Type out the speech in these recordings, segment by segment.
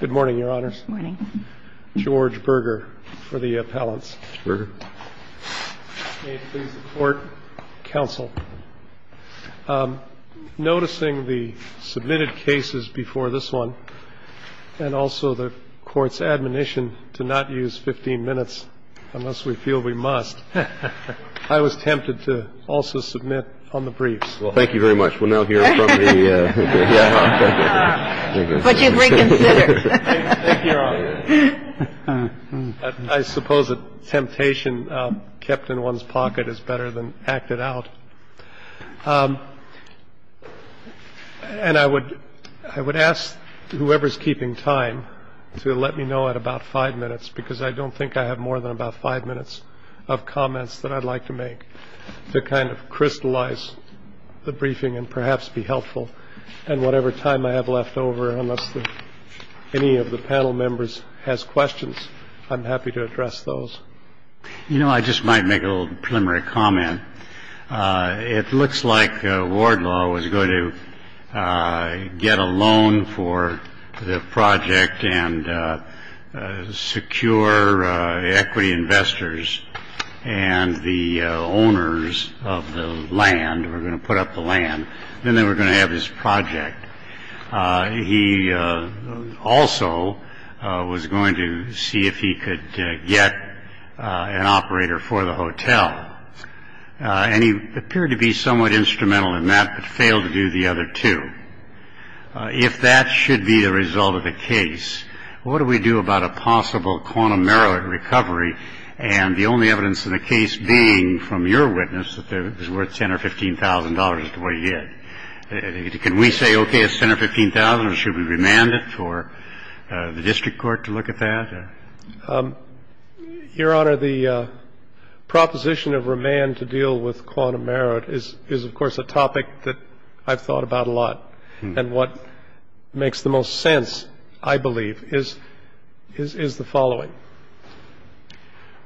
Good morning, Your Honors. Good morning. George Berger for the appellants. George Berger. May it please the Court, Counsel. Noticing the submitted cases before this one, and also the Court's admonition to not use 15 minutes unless we feel we must, I was tempted to also submit on the briefs. Well, thank you very much. We'll now hear from the... But you've reconsidered. Thank you, Your Honor. I suppose a temptation kept in one's pocket is better than acted out. And I would ask whoever's keeping time to let me know at about five minutes, because I don't think I have more than about five minutes of comments that I'd like to make to kind of crystallize the briefing and perhaps be helpful. And whatever time I have left over, unless any of the panel members has questions, I'm happy to address those. You know, I just might make a little preliminary comment. It looks like Wardlaw was going to get a loan for the project and secure equity investors and the owners of the land were going to put up the land. Then they were going to have this project. He also was going to see if he could get an operator for the hotel. And he appeared to be somewhat instrumental in that, but failed to do the other two. If that should be the result of the case, what do we do about a possible quantum merit recovery, and the only evidence in the case being from your witness that it was worth $10,000 or $15,000 to what he did? Can we say, okay, it's $10,000 or $15,000 or should we remand it for the district court to look at that? Your Honor, the proposition of remand to deal with quantum merit is, of course, a topic that I've thought about a lot and what makes the most sense, I believe, is the following.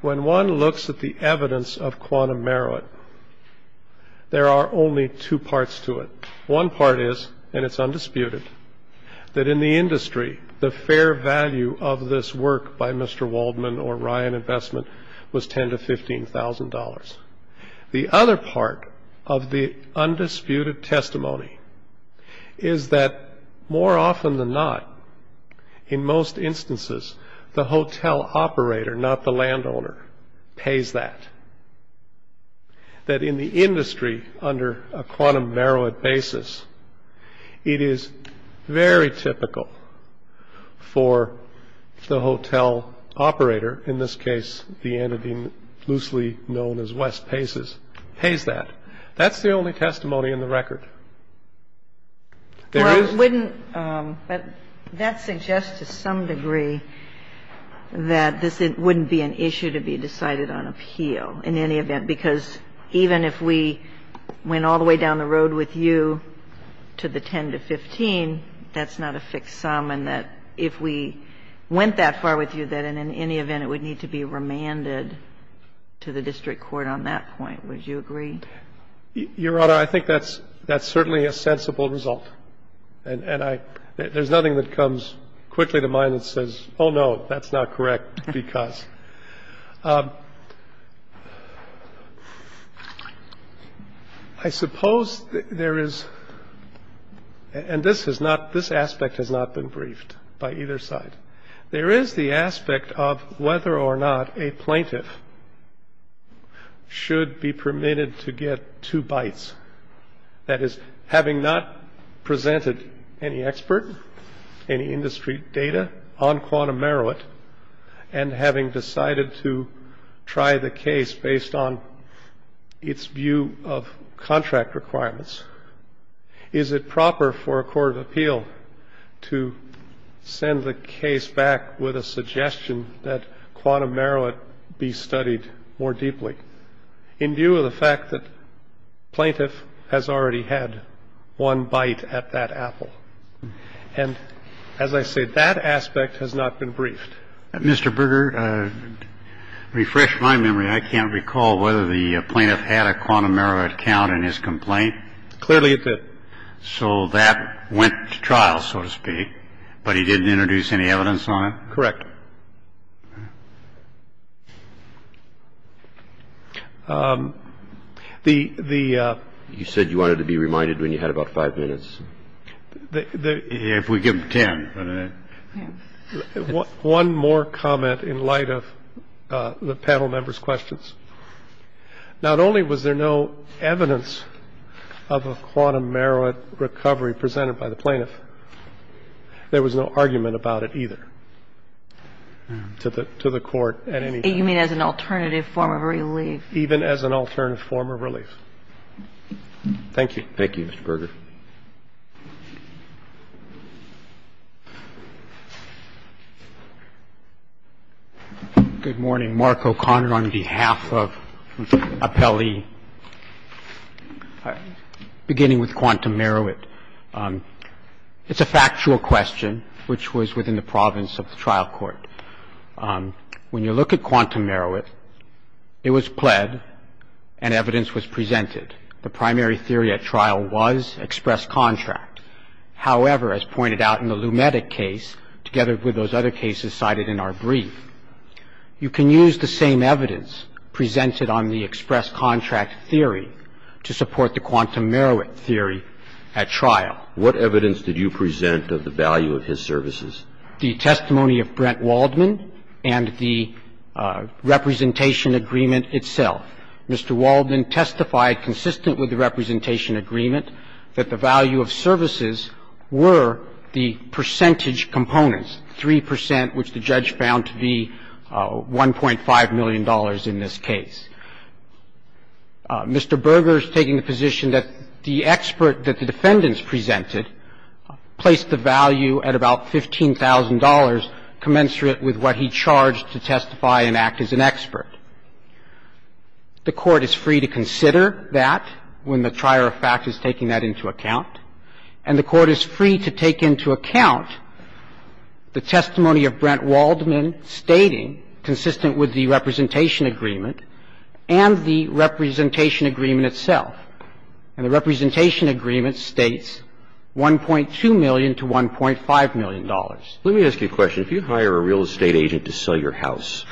When one looks at the evidence of quantum merit, there are only two parts to it. One part is, and it's undisputed, that in the industry, the fair value of this work by Mr. Waldman or Ryan Investment was $10,000 to $15,000. The other part of the undisputed testimony is that more often than not, in most instances, the hotel operator, not the landowner, pays that. That in the industry under a quantum merit basis, it is very typical for the hotel operator, in this case the entity loosely known as West Paces, pays that. That's the only testimony in the record. There is no other. Kagan. Well, wouldn't that suggest to some degree that this wouldn't be an issue to be decided on appeal in any event, because even if we went all the way down the road with you to the 10 to 15, that's not a fixed sum and that if we went that far with you, that in any event, it would need to be remanded to the district court on that point. Would you agree? Your Honor, I think that's certainly a sensible result. And there's nothing that comes quickly to mind that says, oh, no, that's not correct, because I suppose there is, and this aspect has not been briefed by either side. There is the aspect of whether or not a plaintiff should be permitted to get two bites. That is, having not presented any expert, any industry data on quantum merit, and having decided to try the case based on its view of contract requirements, is it proper for a court of appeal to send the case back with a suggestion that quantum merit be studied more deeply in view of the fact that plaintiff has already had one bite at that apple. And as I said, that aspect has not been briefed. Mr. Berger, refresh my memory. I mean, I can't recall whether the plaintiff had a quantum merit count in his complaint. Clearly it did. So that went to trial, so to speak, but he didn't introduce any evidence on it? Correct. You said you wanted to be reminded when you had about five minutes. If we give him 10. One more comment in light of the panel members' questions. Not only was there no evidence of a quantum merit recovery presented by the plaintiff, there was no argument about it either to the court at any time. You mean as an alternative form of relief? Even as an alternative form of relief. Thank you. Thank you, Mr. Berger. Good morning. Mark O'Connor on behalf of Appellee. Beginning with quantum merit, it's a factual question, which was within the province of the trial court. When you look at quantum merit, it was pled and evidence was presented. The primary theory at trial was express contract. However, as pointed out in the Lumetek case, together with those other cases cited in our brief, you can use the same evidence presented on the express contract theory to support the quantum merit theory at trial. What evidence did you present of the value of his services? The testimony of Brent Waldman and the representation agreement itself. Mr. Waldman testified consistent with the representation agreement that the value of services were the percentage components, 3 percent, which the judge found to be $1.5 million in this case. Mr. Berger is taking the position that the expert that the defendants presented placed the value at about $15,000 commensurate with what he charged to testify and act as an expert. The Court is free to consider that when the trier of fact is taking that into account, and the Court is free to take into account the testimony of Brent Waldman stating consistent with the representation agreement and the representation agreement itself, and the representation agreement states $1.2 million to $1.5 million. Let me ask you a question. If you hire a real estate agent to sell your house,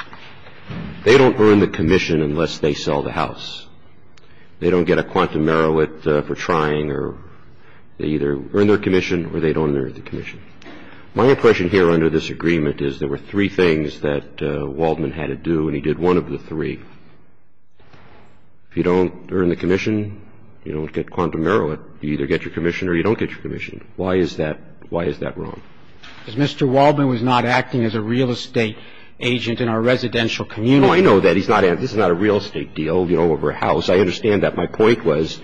they don't earn the commission unless they sell the house. They don't get a quantum merit for trying or they either earn their commission or they don't earn their commission. My impression here under this agreement is there were three things that Waldman had to do and he did one of the three. If you don't earn the commission, you don't get quantum merit. You either get your commission or you don't get your commission. Why is that wrong? Because Mr. Waldman was not acting as a real estate agent in our residential community. You know, I know that. This is not a real estate deal, you know, over a house. I understand that. My point was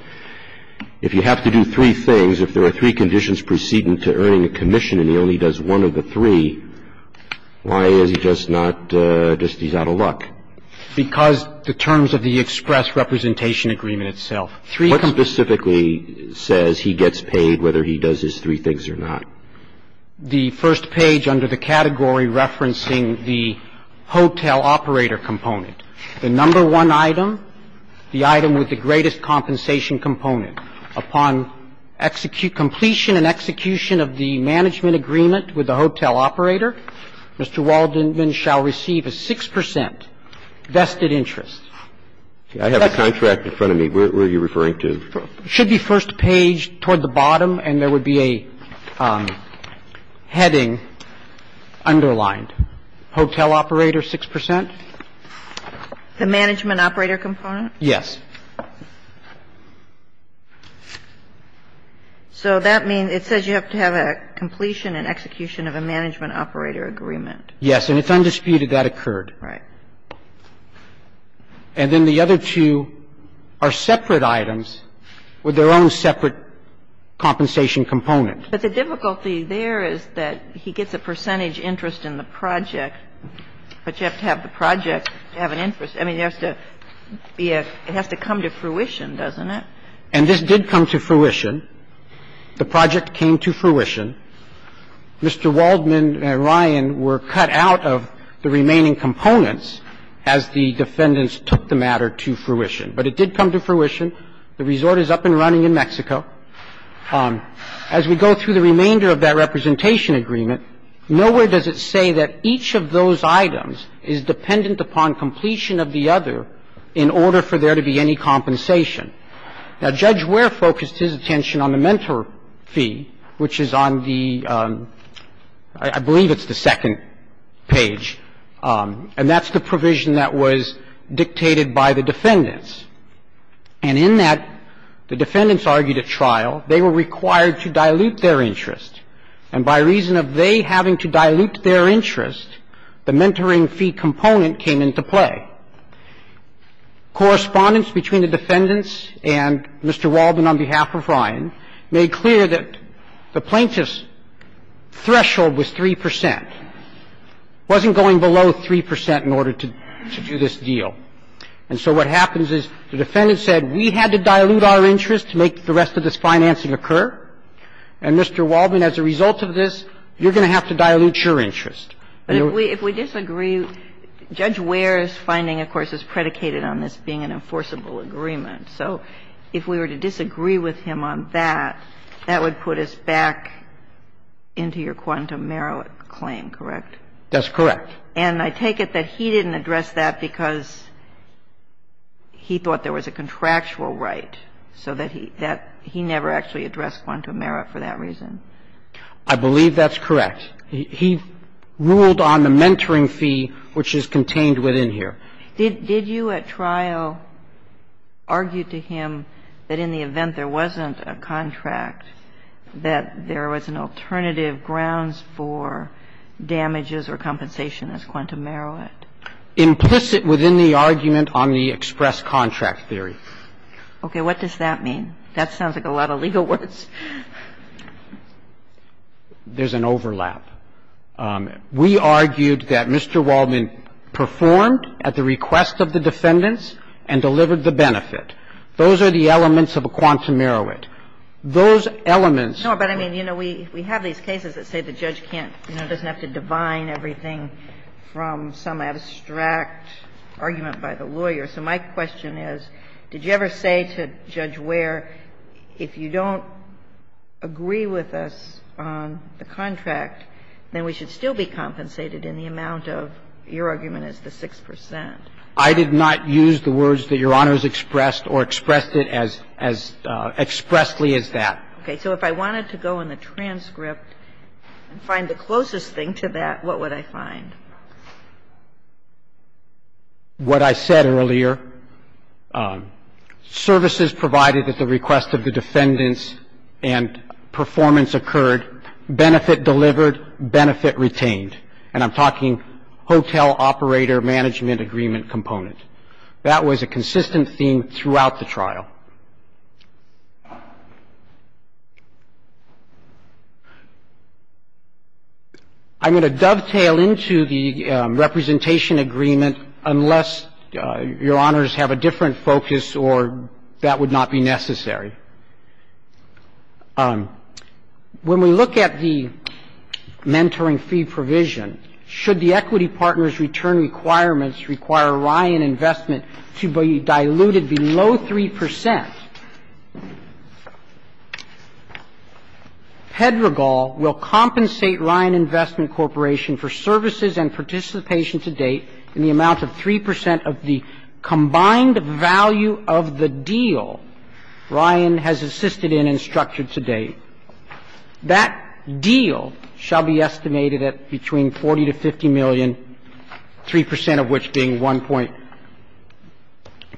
if you have to do three things, if there are three conditions preceding to earning a commission and he only does one of the three, why is he just not just he's out of luck? Because the terms of the express representation agreement itself. Three. What specifically says he gets paid whether he does his three things or not? The first page under the category referencing the hotel operator component. The number one item, the item with the greatest compensation component. Upon execution, completion and execution of the management agreement with the hotel operator, Mr. Waldman shall receive a 6 percent vested interest. I have a contract in front of me. Where are you referring to? It should be first page toward the bottom and there would be a heading underlined, hotel operator 6 percent. The management operator component? Yes. So that means it says you have to have a completion and execution of a management operator agreement. Yes. And it's undisputed that occurred. Right. And then the other two are separate items with their own separate compensation component. But the difficulty there is that he gets a percentage interest in the project, but you have to have the project have an interest. I mean, it has to be a – it has to come to fruition, doesn't it? And this did come to fruition. The project came to fruition. Mr. Waldman and Ryan were cut out of the remaining components as the defendants took the matter to fruition. But it did come to fruition. The resort is up and running in Mexico. As we go through the remainder of that representation agreement, nowhere does it say that each of those items is dependent upon completion of the other in order for there to be any compensation. Now, Judge Ware focused his attention on the mentor fee, which is on the – I believe it's the second page. And that's the provision that was dictated by the defendants. And in that, the defendants argued at trial they were required to dilute their interest. And by reason of they having to dilute their interest, the mentoring fee component came into play. Correspondence between the defendants and Mr. Waldman on behalf of Ryan made clear that the plaintiff's threshold was 3 percent. It wasn't going below 3 percent in order to do this deal. And so what happens is the defendants said, we had to dilute our interest to make the rest of this financing occur. And, Mr. Waldman, as a result of this, you're going to have to dilute your interest. But if we disagree, Judge Ware's finding, of course, is predicated on this being an enforceable agreement. So if we were to disagree with him on that, that would put us back into your quantum merit claim, correct? That's correct. And I take it that he didn't address that because he thought there was a contractual right, so that he never actually addressed quantum merit for that reason. I believe that's correct. He ruled on the mentoring fee, which is contained within here. Did you at trial argue to him that in the event there wasn't a contract, that there was an alternative grounds for damages or compensation as quantum merit? Implicit within the argument on the express contract theory. Okay. What does that mean? That sounds like a lot of legal words. There's an overlap. We argued that Mr. Waldman performed at the request of the defendants and delivered the benefit. Those are the elements of a quantum merit. Those elements of a quantum merit. No, but I mean, you know, we have these cases that say the judge can't, you know, So my question is, did you ever say to Judge Ware, if you don't agree with us on the contract, then we should still be compensated in the amount of your argument as the 6 percent? I did not use the words that Your Honor has expressed or expressed it as expressly as that. Okay. So if I wanted to go in the transcript and find the closest thing to that, what would I find? What I said earlier, services provided at the request of the defendants and performance occurred, benefit delivered, benefit retained. And I'm talking hotel operator management agreement component. That was a consistent theme throughout the trial. I'm going to dovetail into the representation agreement unless Your Honors have a different focus or that would not be necessary. When we look at the mentoring fee provision, should the equity partner's return requirements require Ryan Investment to be diluted below 3 percent? Pedregal will compensate Ryan Investment Corporation for services and participation to date in the amount of 3 percent of the combined value of the deal Ryan has assisted in and structured to date. That deal shall be estimated at between 40 to 50 million, 3 percent of which being 1.2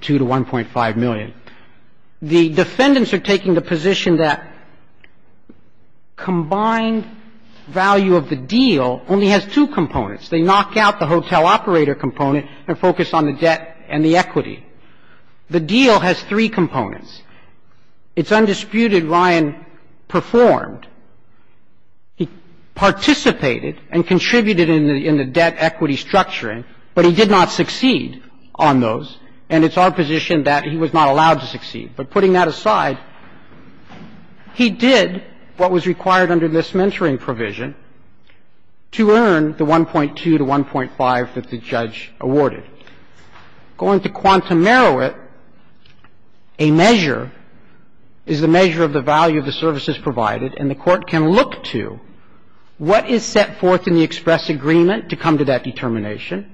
to 1.5 million. The defendants are taking the position that combined value of the deal only has two components. They knock out the hotel operator component and focus on the debt and the equity. The deal has three components. It's undisputed Ryan performed. He participated and contributed in the debt equity structuring, but he did not succeed on those. And it's our position that he was not allowed to succeed. But putting that aside, he did what was required under this mentoring provision to earn the 1.2 to 1.5 that the judge awarded. Going to quantum merit, a measure is the measure of the value of the services provided, and the Court can look to what is set forth in the express agreement to come to that determination,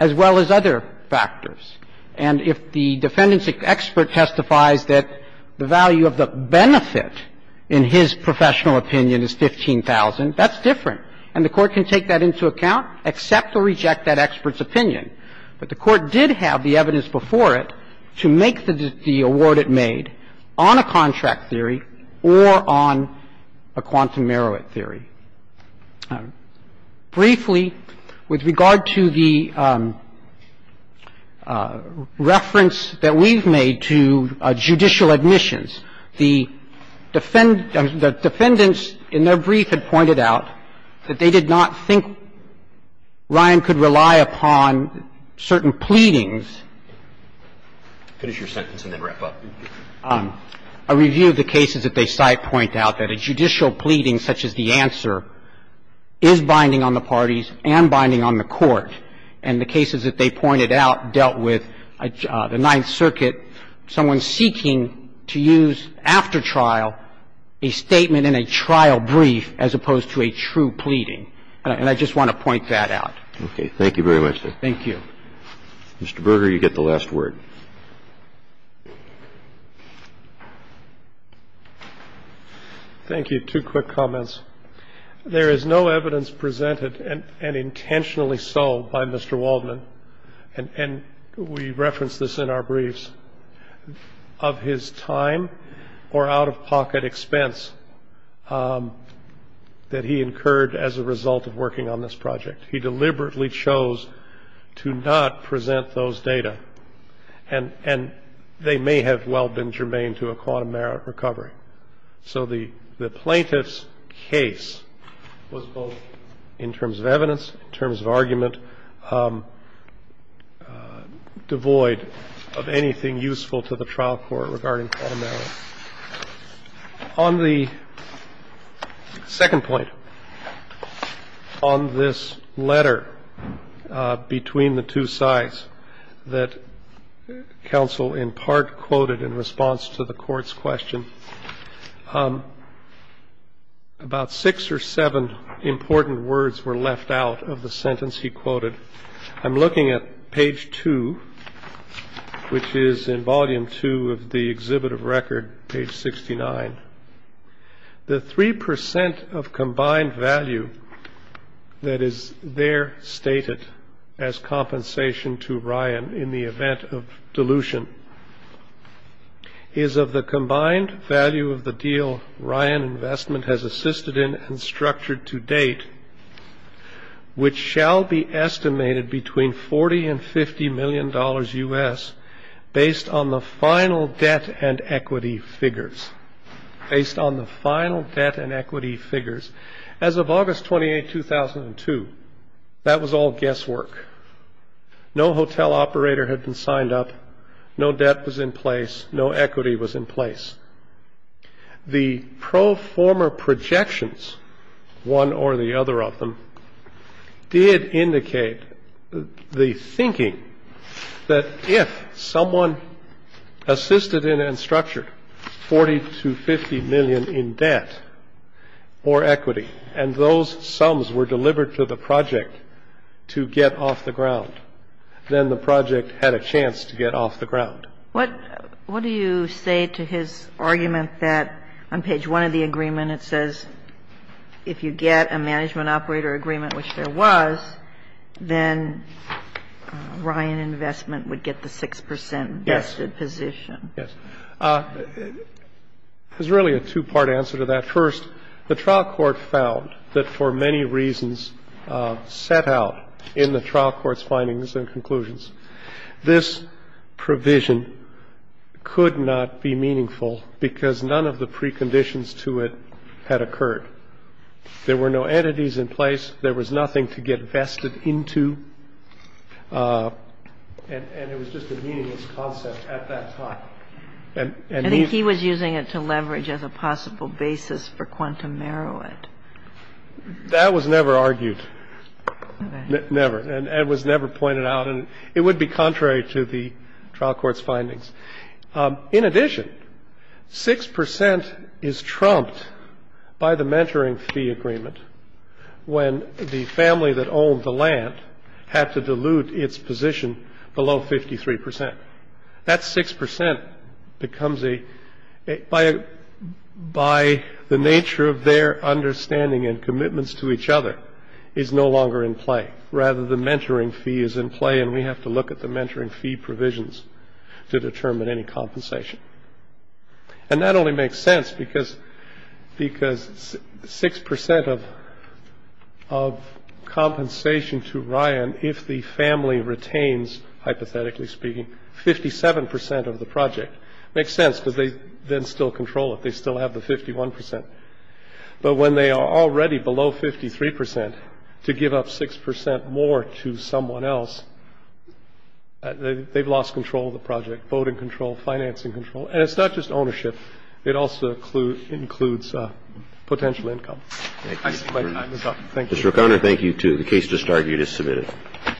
as well as other factors. And if the defendant's expert testifies that the value of the benefit in his professional opinion is 15,000, that's different. And the Court can take that into account, accept or reject that expert's opinion. But the Court did have the evidence before it to make the award it made on a contract theory or on a quantum merit theory. Briefly, with regard to the reference that we've made to judicial admissions, the defendants in their brief had pointed out that they did not think Ryan could rely upon certain pleadings. Finish your sentence and then wrap up. A review of the cases that they cite point out that a judicial pleading such as the answer is binding on the parties and binding on the Court. And the cases that they pointed out dealt with the Ninth Circuit, someone seeking to use after trial a statement in a trial brief as opposed to a true pleading. And I just want to point that out. Thank you very much. Thank you. Mr. Berger, you get the last word. Thank you. Two quick comments. There is no evidence presented and intentionally sold by Mr. Waldman, and we reference this in our briefs, of his time or out-of-pocket expense that he incurred as a result of working on this project. He deliberately chose to not present those data, and they may have well been germane to a quantum merit recovery. So the plaintiff's case was both in terms of evidence, in terms of argument, devoid of anything useful to the trial court regarding quantum merit. On the second point, on this letter between the two sides that counsel in part quoted in response to the Court's question, about six or seven important words were left out of the sentence he quoted. I'm looking at page two, which is in volume two of the exhibit of record, page 69. The 3% of combined value that is there stated as compensation to Ryan in the event of dilution is of the combined value of the deal Ryan Investment has assisted in and estimated between $40 and $50 million U.S. based on the final debt and equity figures. Based on the final debt and equity figures, as of August 28, 2002, that was all guesswork. No hotel operator had been signed up, no debt was in place, no equity was in place. The pro forma projections, one or the other of them, did indicate the thinking that if someone assisted in and structured $40 to $50 million in debt or equity and those sums were delivered to the project to get off the ground, then the project had a chance to get off the ground. What do you say to his argument that on page one of the agreement it says if you get a management operator agreement, which there was, then Ryan Investment would get the 6% vested position? Yes. There's really a two-part answer to that. First, the trial court found that for many reasons set out in the trial court's conclusions, this provision could not be meaningful because none of the preconditions to it had occurred. There were no entities in place. There was nothing to get vested into. And it was just a meaningless concept at that time. And he was using it to leverage as a possible basis for quantum merit. That was never argued. Never. And it was never pointed out. And it would be contrary to the trial court's findings. In addition, 6% is trumped by the mentoring fee agreement when the family that owned the land had to dilute its position below 53%. That 6% becomes a by the nature of their understanding and commitments to each other is no longer in play. Rather, the mentoring fee is in play and we have to look at the mentoring fee provisions to determine any compensation. And that only makes sense because 6% of compensation to Ryan if the family retains, hypothetically speaking, 57% of the project. Makes sense because they then still control it. They still have the 51%. But when they are already below 53% to give up 6% more to someone else, they've lost control of the project, voting control, financing control. And it's not just ownership. It also includes potential income. Thank you. Mr. O'Connor, thank you, too. The case just argued is submitted.